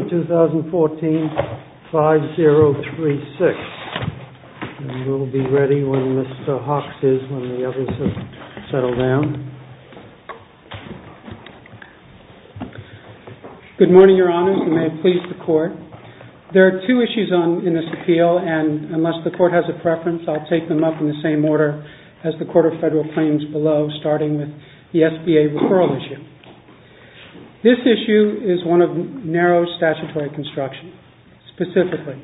2014 5-0-3-6, and we'll be ready when Mr. Hawks is, when the others have settled down. Good morning, Your Honors, and may it please the Court. There are two issues in this appeal, and unless the Court has a preference, I'll take them up in the same order as the Court of Federal Claims below, starting with the SBA referral issue. This issue is one of narrow statutory construction. Specifically,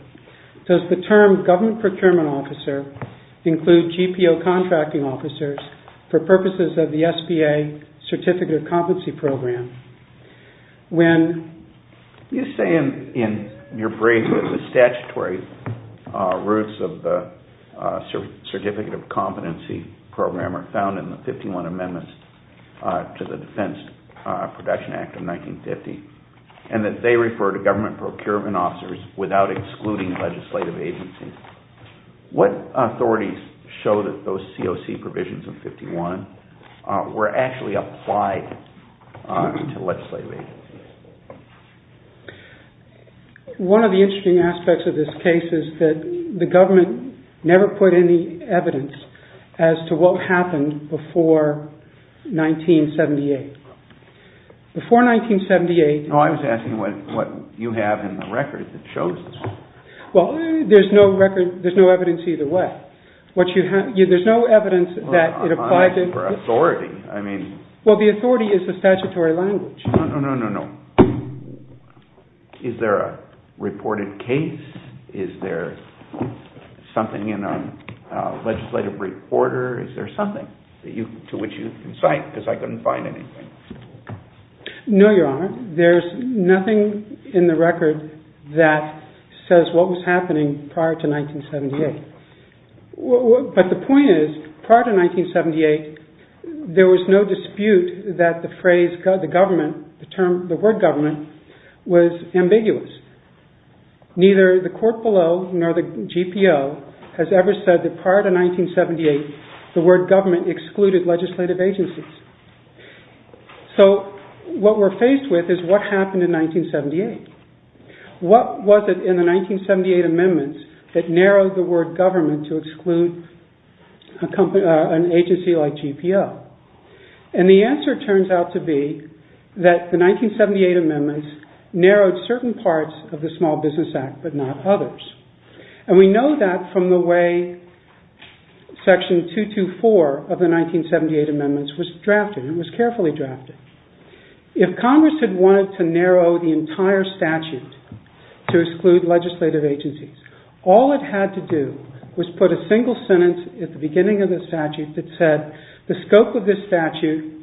does the term government procurement officer include GPO contracting officers for purposes of the SBA Certificate of Competency Program? When you say in your brief that the statutory roots of the Certificate of Competency Program are found in the 51 amendments to the Defense Production Act of 1950, and that they refer to government procurement officers without excluding legislative agencies, what authorities show that those COC provisions of 51 were actually applied to legislative agencies? One of the interesting aspects of this case is that the government never put any evidence as to what happened before 1978. Before 1978... I was asking what you have in the record that shows this. Well, there's no record, there's no evidence either way. What you have, there's no evidence that it applied to... I'm asking for authority, I mean... Well, the authority is the statutory language. No, no, no, no, no. Is there a reported case? Is there something in a legislative brief order? Is there something to which you can cite? Because I couldn't find anything. No, Your Honor. There's nothing in the record that says what was happening prior to 1978. But the point is, prior to 1978, there was no dispute that the phrase, the word government was ambiguous. Neither the court below nor the GPO has ever said that prior to 1978, the word government excluded legislative agencies. So what we're faced with is what happened in 1978. What was it in the 1978 amendments that narrowed the word government to exclude an agency like GPO? And the answer turns out to be that the 1978 amendments narrowed certain parts of the Small Business Act, but not others. And we know that from the way Section 224 of the 1978 amendments was drafted. It was carefully drafted. If Congress had wanted to narrow the entire statute to exclude legislative agencies, all it had to do was put a single sentence at the beginning of the statute that said, the scope of this statute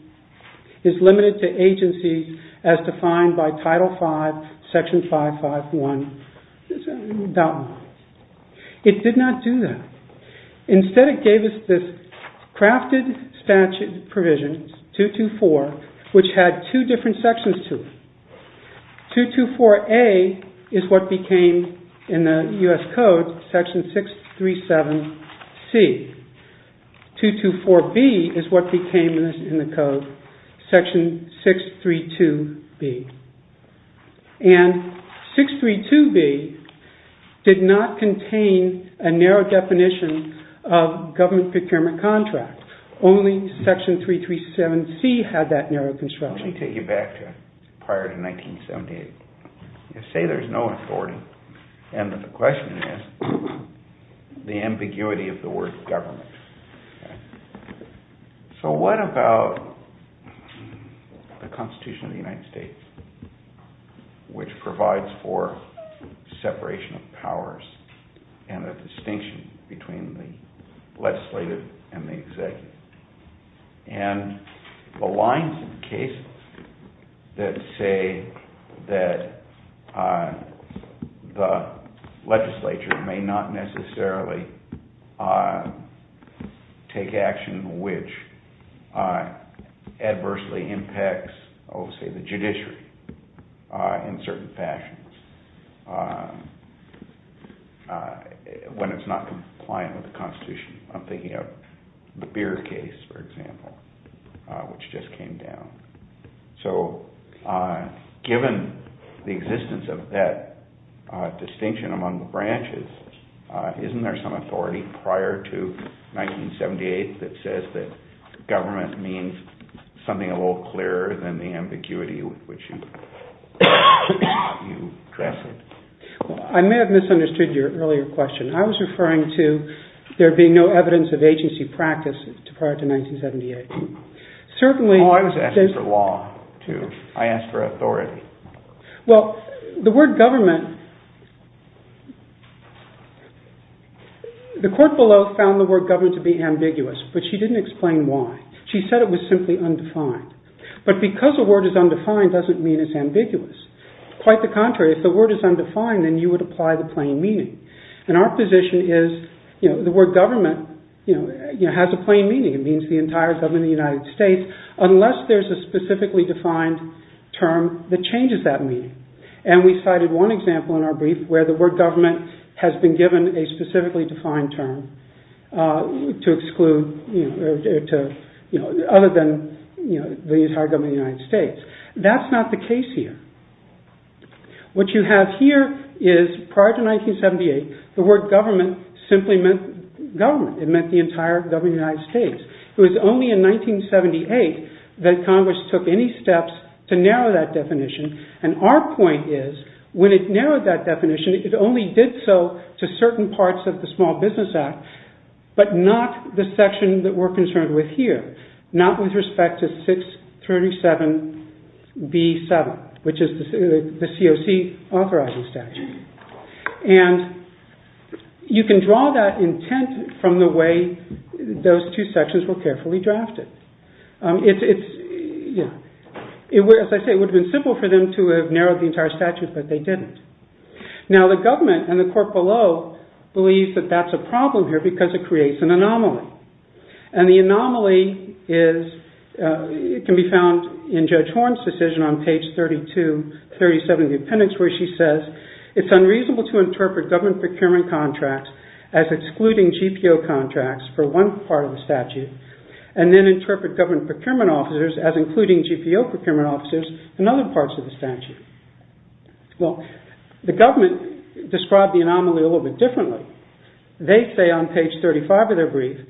is limited to agencies as defined by Title V, Section 551.1. It did not do that. Instead, it gave us this crafted statute provision, 224, which had two different sections to it. 224A is what became, in the U.S. Code, Section 637C. 224B is what became, in the Code, Section 632B. And 632B did not contain a narrow definition of government procurement contract. Only Section 337C had that narrow construction. Let me take you back to prior to 1978. Say there's no authority, and the question is the ambiguity of the word government. So what about the Constitution of the United States, which provides for separation of powers and a distinction between the legislative and the executive? And the lines in the case that say that the legislature may not necessarily take action which adversely impacts, say, the judiciary in certain fashions when it's not compliant with the Constitution. I'm thinking of the Beer case, for example, which just prior to 1978 that says that government means something a little clearer than the ambiguity with which you address it. I may have misunderstood your earlier question. I was referring to there being no evidence of agency practice prior to 1978. Certainly... I asked for authority. Well, the word government... The court below found the word government to be ambiguous, but she didn't explain why. She said it was simply undefined. But because a word is undefined doesn't mean it's ambiguous. Quite the contrary. If the word is undefined, then you would apply the plain meaning. And our position is the word government has a plain meaning. It means the entire government of the United States unless there's a specifically defined term that changes that meaning. And we cited one example in our brief where the word government has been given a specifically defined term to exclude... other than the entire government of the United States. That's not the case here. What you have here is prior to 1978 the word government simply meant government. It meant the entire government of the United States. It was only in 1978 that Congress took any steps to narrow that definition. And our point is when it narrowed that definition, it only did so to certain parts of the Small Business Act, but not the section that we're concerned with here. Not with respect to 637B7, which is the COC authorizing statute. And you can draw that intent from the way those two sections were carefully drafted. As I say, it would have been simple for them to have narrowed the entire statute, but they didn't. Now the government and the court below believes that that's a problem here because it creates an anomaly. And the anomaly can be found in Judge Horne's decision on page 32-37 of the appendix where she says it's unreasonable to interpret government procurement contracts as excluding GPO contracts for one part of the statute and then interpret government procurement officers as including GPO procurement officers in other parts of the statute. Well, the government described the anomaly a little bit differently. They say on page 35 of their brief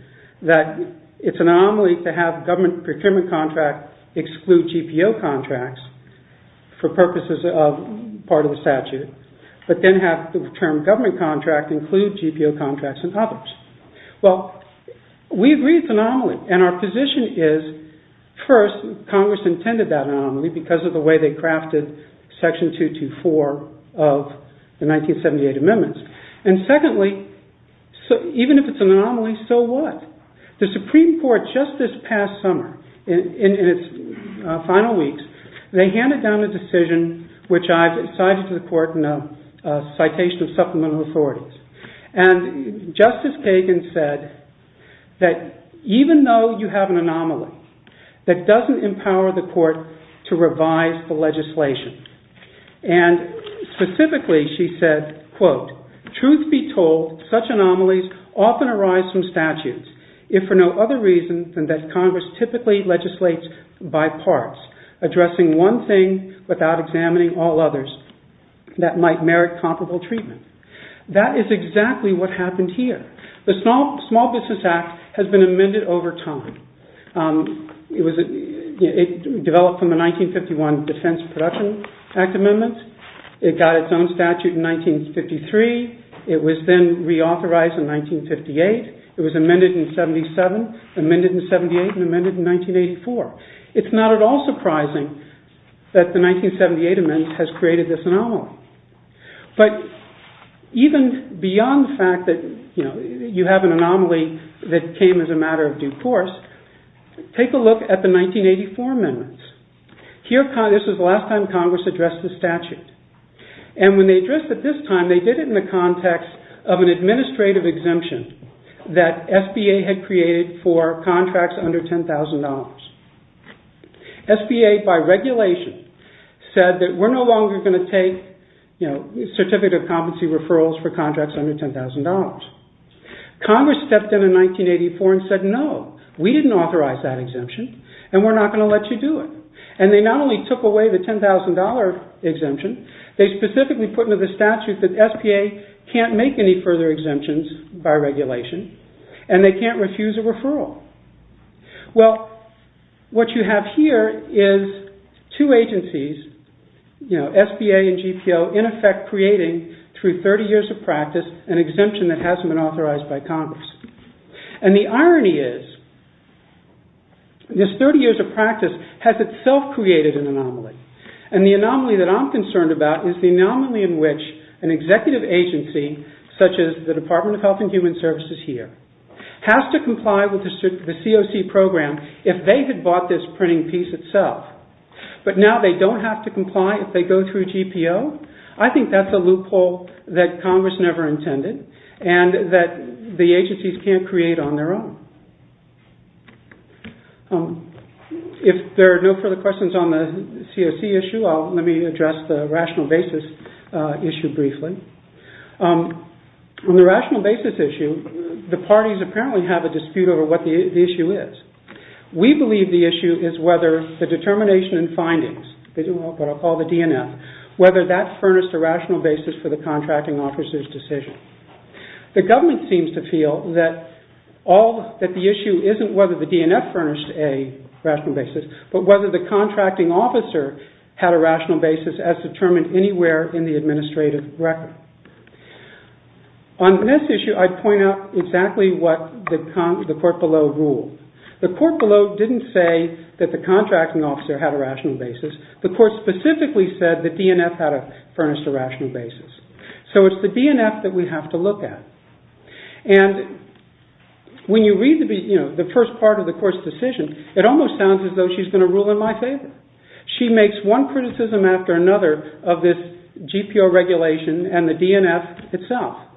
that it's an anomaly to have government procurement contract exclude GPO contracts for purposes of part of the statute, but then have the term government contract include GPO contracts in others. Well, we agree it's an anomaly. And our position is, first, Congress intended that anomaly because of the way they crafted section 224 of the 1978 amendments. And secondly, even if it's an anomaly, so what? The Supreme Court just this past summer, in its final weeks, they handed down a decision which I've cited to the court in a citation of supplemental authorities. And Justice Kagan said that even though you have an anomaly, that doesn't empower the court to revise the legislation. And specifically she said, quote, truth be told, such anomalies often arise from statutes, if for no other reason than that Congress typically legislates by parts, addressing one thing without examining all others that might merit comparable treatment. That is exactly what happened here. The Small Business Act has been amended over time. It developed from the 1951 Defense Production Act amendment. It got its own statute in 1953. It was then reauthorized in 1958. It was amended in 77, amended in 78, and amended in 1984. It's not at all surprising that the 1978 amendment has created this anomaly. But even beyond the fact that you have an anomaly that came as a matter of due course, take a look at the 1984 amendments. This is the last time Congress addressed the statute. And when they addressed it this time, they did it in the context of an administrative exemption that SBA had created for contracts under $10,000. SBA, by regulation, said that we're no longer going to take certificate of competency referrals for contracts under $10,000. Congress stepped in in 1984 and said, no, we didn't authorize that exemption and we're not going to let you do it. And they not only took away the $10,000 exemption, they specifically put into the statute that SBA can't make any further exemptions by regulation and they can't refuse a referral. Well, what you have here is two agencies, SBA and GPO, in effect creating, through 30 years of practice, an exemption that hasn't been authorized by Congress. And the irony is, this 30 years of practice has itself created an anomaly. And the anomaly that I'm concerned about is the anomaly in which an executive agency, such as the Department of Health and Human Services here, has to comply with the COC program if they had bought this printing piece itself. But now they don't have to comply if they go through GPO? I think that's a loophole that Congress never intended and that the agencies can't create on their own. If there are no further questions on the COC issue, let me address the rational basis issue briefly. On the rational basis issue, the parties apparently have a dispute over what the issue is. We believe the issue is whether the determination and findings, what I'll call the DNF, whether that furnished a rational basis for the contracting officer's decision. The government seems to feel that the issue isn't whether the DNF furnished a rational basis, but whether the contracting officer had a rational basis as determined anywhere in the administrative record. On this issue, I'd point out exactly what the court below ruled. The court below didn't say that the contracting officer had a rational basis. The court specifically said the DNF had a furnished a rational basis. So it's the DNF that we have to look at. When you read the first part of the court's decision, it almost sounds as though she's going to rule in my favor. She makes one criticism after another of this GPO regulation and the DNF itself.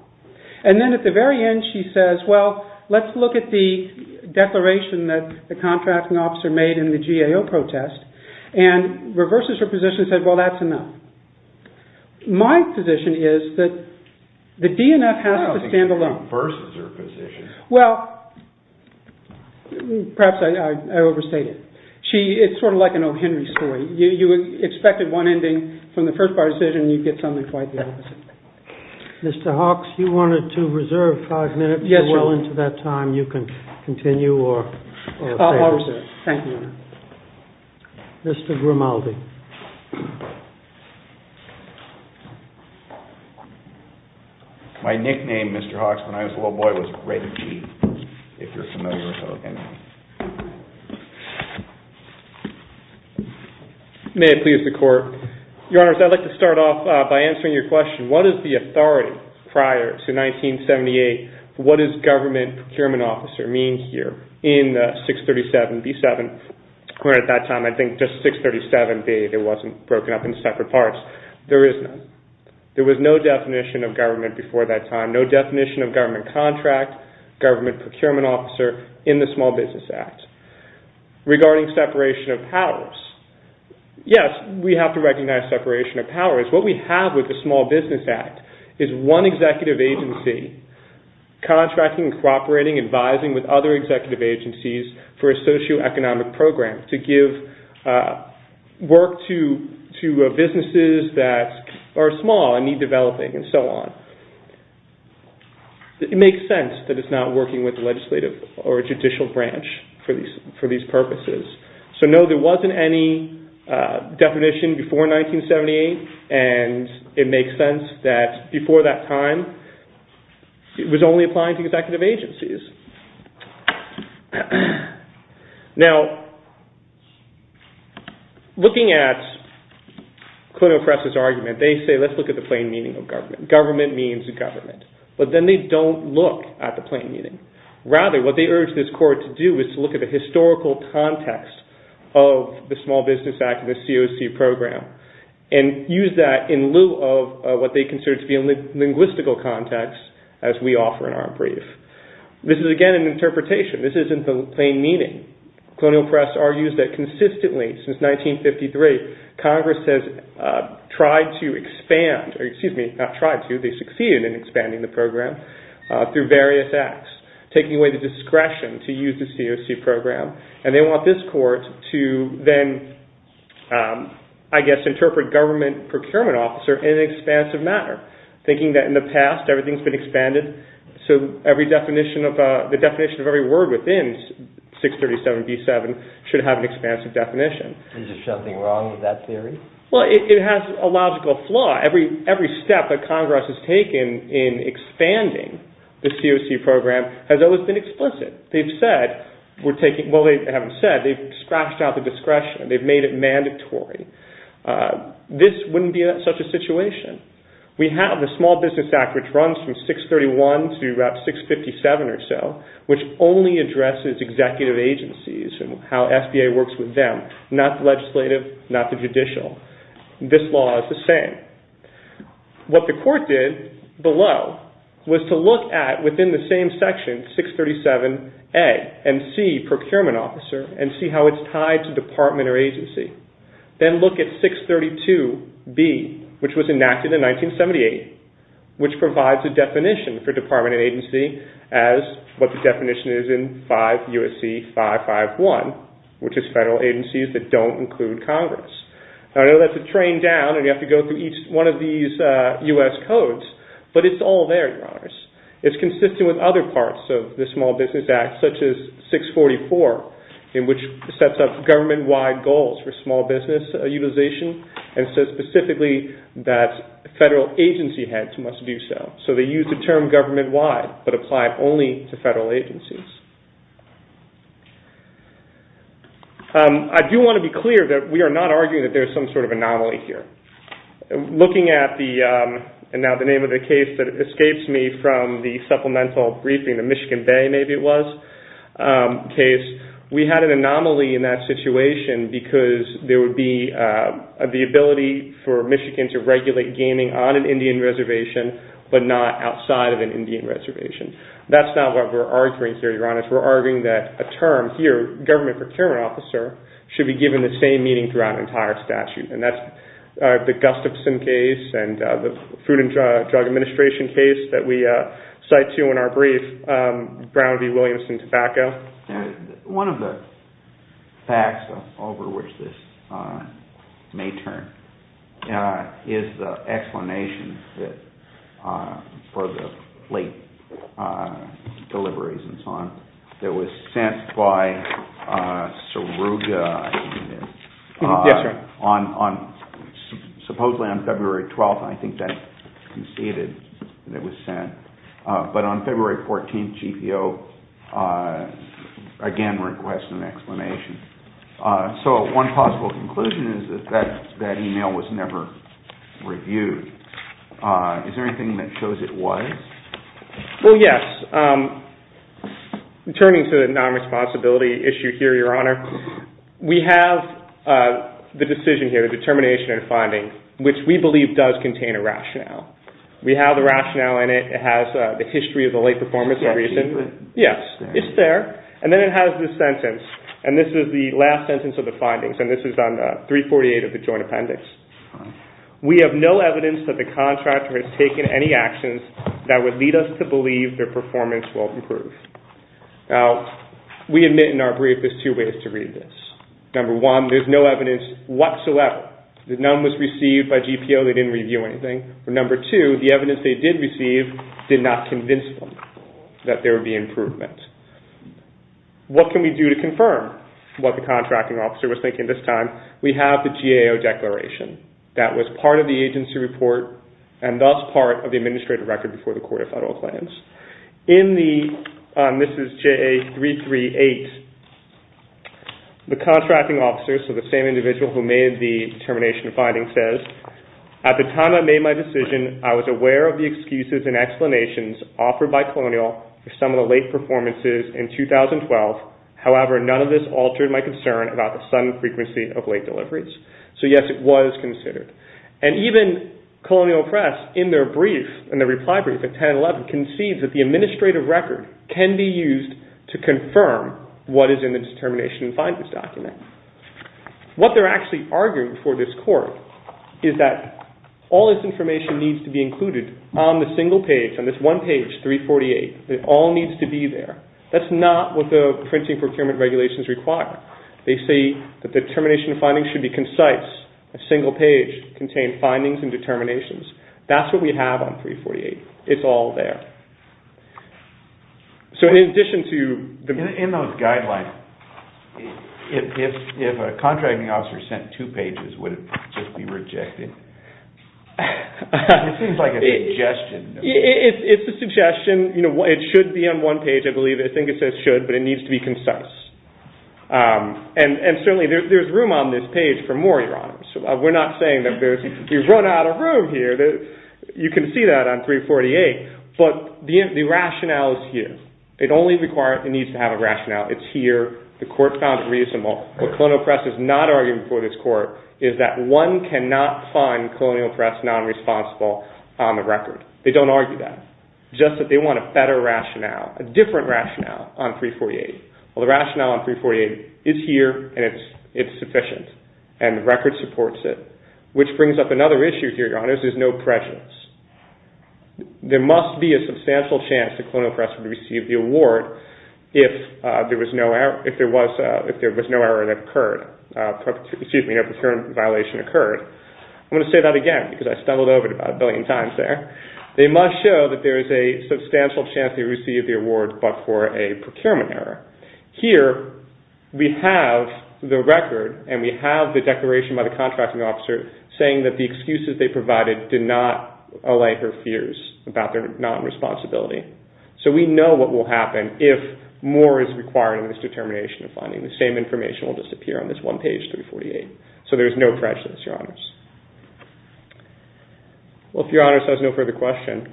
Then at the very end, she says, well, let's look at the declaration that the contracting officer made in the GAO protest and reverses her position and says, well, that's enough. My position is that the DNF has to stand alone. No, it reverses her position. Well, perhaps I overstate it. It's sort of like an O. Henry story. You expected one ending from the first part of the decision and you get something quite the opposite. Mr. Hawks, you wanted to reserve five minutes. If you're willing to that time, you can continue your affairs. I'll reserve. Thank you, Your Honor. Mr. Grimaldi. My nickname, Mr. Hawks, when I was a little boy, was Raven G, if you're familiar with that. May it please the court. Your Honor, I'd like to start off by answering your question. What is the authority prior to 1978? What does government procurement officer mean here? In 637B7, or at that time, I think just 637B, it wasn't broken up into separate parts. There is none. There was no definition of government before that time. No definition of government contract, government procurement officer in the Small Business Act. Regarding separation of powers, yes, we have to recognize separation of powers. What we have with the Small Business Act is one executive agency contracting, cooperating, advising with other executive agencies for a socioeconomic program to give work to businesses that are small and need developing and so on. It makes sense that it's not working with the legislative or judicial branch for these purposes. So no, there wasn't any definition before 1978, and it makes sense that before that time, it was only applying to executive agencies. Now, looking at Clinton Press's argument, they say let's look at the plain meaning of government. Government means government. But then they don't look at the plain meaning. Rather, what they urge this court to do is to look at the historical context of the Small Business Act and the COC program and use that in lieu of what they consider to be a linguistical context, as we offer in our brief. This is, again, an interpretation. This isn't the plain meaning. Clinton Press argues that consistently since 1953, Congress has tried to expand, expanding the program through various acts, taking away the discretion to use the COC program, and they want this court to then, I guess, interpret government procurement officer in an expansive manner, thinking that in the past, everything's been expanded, so the definition of every word within 637b7 should have an expansive definition. Is there something wrong with that theory? Well, it has a logical flaw. Every step that Congress has taken in expanding the COC program has always been explicit. They've said, well, they haven't said, they've scratched out the discretion. They've made it mandatory. This wouldn't be such a situation. We have the Small Business Act, which runs from 631 to about 657 or so, which only addresses executive agencies and how SBA works with them, not the legislative, not the judicial. This law is the same. What the court did below was to look at, within the same section, 637a, and see procurement officer and see how it's tied to department or agency, then look at 632b, which was enacted in 1978, which provides a definition for department and agency as what the definition is in 5 U.S.C. 551, which is federal agencies that don't include Congress. Now, I know that's a train down, and you have to go through each one of these U.S. codes, but it's all there, Your Honors. It's consistent with other parts of the Small Business Act, such as 644, in which it sets up government-wide goals for small business utilization and says specifically that federal agency heads must do so. So they use the term government-wide, but apply it only to federal agencies. I do want to be clear that we are not arguing that there is some sort of anomaly here. Looking at the, and now the name of the case that escapes me from the supplemental briefing, the Michigan Bay, maybe it was, case, we had an anomaly in that situation because there would be the ability for Michigan to regulate gaming on an Indian reservation, but not outside of an Indian reservation. That's not what we're arguing here, Your Honors. We're arguing that a term here, government procurement officer, should be given the same meaning throughout an entire statute, and that's the Gustafson case and the Food and Drug Administration case that we cite to in our brief, Brown v. Williamson tobacco. One of the facts over which this may turn is the explanation for the late deliveries and so on that was sent by Saruga, I believe it is. Yes, sir. Supposedly on February 12th, I think that conceded that it was sent, but on February 14th, GPO again requests an explanation. So one possible conclusion is that that email was never reviewed. Is there anything that shows it was? Well, yes. Turning to the non-responsibility issue here, Your Honor, we have the decision here, the determination and finding, which we believe does contain a rationale. We have the rationale in it. It has the history of the late performance. Yes, it's there. And then it has the sentence, and this is the last sentence of the findings, and this is on 348 of the joint appendix. We have no evidence that the contractor has taken any actions that would lead us to believe their performance will improve. Now, we admit in our brief there's two ways to read this. Number one, there's no evidence whatsoever that none was received by GPO. They didn't review anything. And number two, the evidence they did receive did not convince them that there would be improvement. What can we do to confirm what the contracting officer was thinking this time? We have the GAO declaration. That was part of the agency report and thus part of the administrative record before the Court of Federal Claims. This is JA338. The contracting officer, so the same individual who made the determination and finding, says, at the time I made my decision, I was aware of the excuses and explanations offered by Colonial for some of the late performances in 2012. However, none of this altered my concern about the sudden frequency of late deliveries. So, yes, it was considered. And even Colonial Press, in their brief, in their reply brief at 10-11, concedes that the administrative record can be used to confirm what is in the determination and findings document. What they're actually arguing before this Court is that all this information needs to be included on the single page, on this one page, 348. It all needs to be there. That's not what the printing procurement regulations require. They say that the determination and findings should be concise, a single page, contain findings and determinations. That's what we have on 348. It's all there. So in addition to the... In those guidelines, if a contracting officer sent two pages, would it just be rejected? It seems like a suggestion. It's a suggestion. It should be on one page, I believe. I think it says should, but it needs to be concise. And certainly there's room on this page for more, Your Honors. We're not saying that we've run out of room here. You can see that on 348. But the rationale is here. It only requires it needs to have a rationale. It's here. The Court found it reasonable. What Colonial Press is not arguing before this Court is that one cannot find Colonial Press nonresponsible on the record. They don't argue that. Just that they want a better rationale, a different rationale on 348. Well, the rationale on 348 is here, and it's sufficient, and the record supports it, which brings up another issue here, Your Honors, is no presence. There must be a substantial chance that Colonial Press would receive the award if there was no error that occurred, excuse me, no procurement violation occurred. I'm going to say that again because I stumbled over it about a billion times there. They must show that there is a substantial chance they received the award but for a procurement error. Here we have the record, and we have the declaration by the contracting officer saying that the excuses they provided did not allay her fears about their nonresponsibility. So we know what will happen if more is required in this determination of finding. The same information will disappear on this one page, 348. So there's no prejudice, Your Honors. Well, if Your Honors has no further question.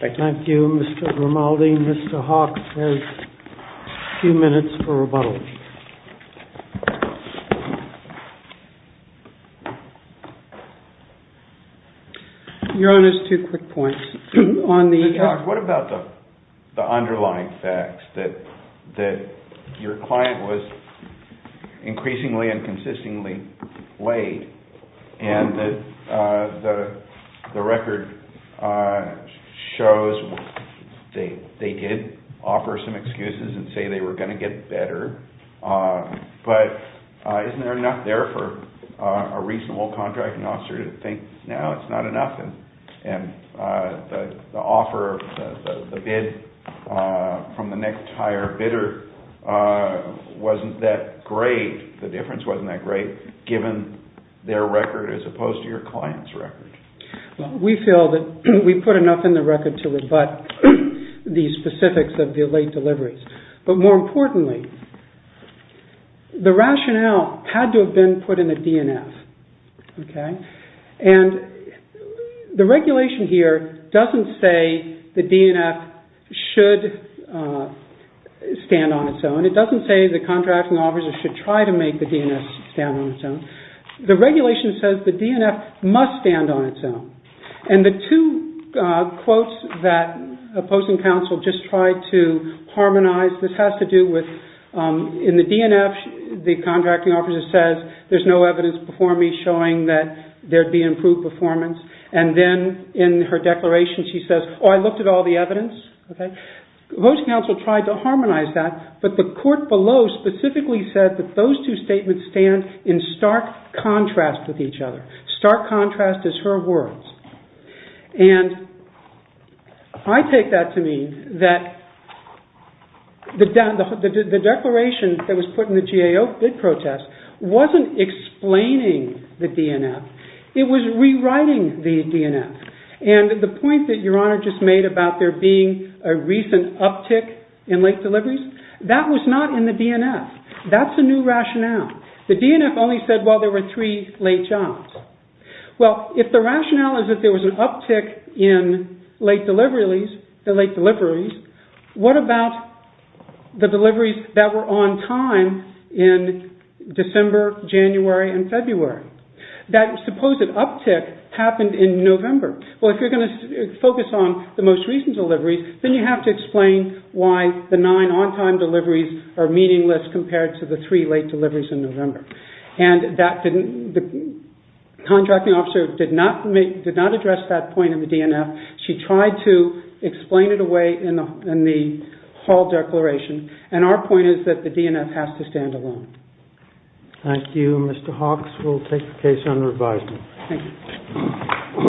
Thank you. Thank you, Mr. Grimaldi. Mr. Hawke has a few minutes for rebuttal. Your Honors, two quick points. Mr. Hawke, what about the underlying facts, that your client was increasingly and consistently late and that the record shows they did offer some excuses and say they were going to get better, but isn't there enough there for a reasonable contracting officer to think, no, it's not enough, and the offer of the bid from the next higher bidder wasn't that great, the difference wasn't that great, given their record as opposed to your client's record? We feel that we put enough in the record to rebut the specifics of the late deliveries. But more importantly, the rationale had to have been put in the DNF. And the regulation here doesn't say the DNF should stand on its own. It doesn't say the contracting officer should try to make the DNF stand on its own. The regulation says the DNF must stand on its own. And the two quotes that opposing counsel just tried to harmonize, this has to do with, in the DNF the contracting officer says there's no evidence before me showing that there'd be improved performance. And then in her declaration she says, oh, I looked at all the evidence. Opposing counsel tried to harmonize that, but the court below specifically said that those two statements stand in stark contrast with each other. Stark contrast is her words. And I take that to mean that the declaration that was put in the GAO bid protest wasn't explaining the DNF. It was rewriting the DNF. And the point that Your Honor just made about there being a recent uptick in late deliveries, that was not in the DNF. That's a new rationale. The DNF only said, well, there were three late jobs. Well, if the rationale is that there was an uptick in late deliveries, what about the deliveries that were on time in December, January, and February? That supposed uptick happened in November. Well, if you're going to focus on the most recent deliveries, then you have to explain why the nine on-time deliveries are meaningless compared to the three late deliveries in November. And the contracting officer did not address that point in the DNF. She tried to explain it away in the Hall declaration. And our point is that the DNF has to stand alone. Thank you. Mr. Hawks, we'll take the case under advisement. Thank you.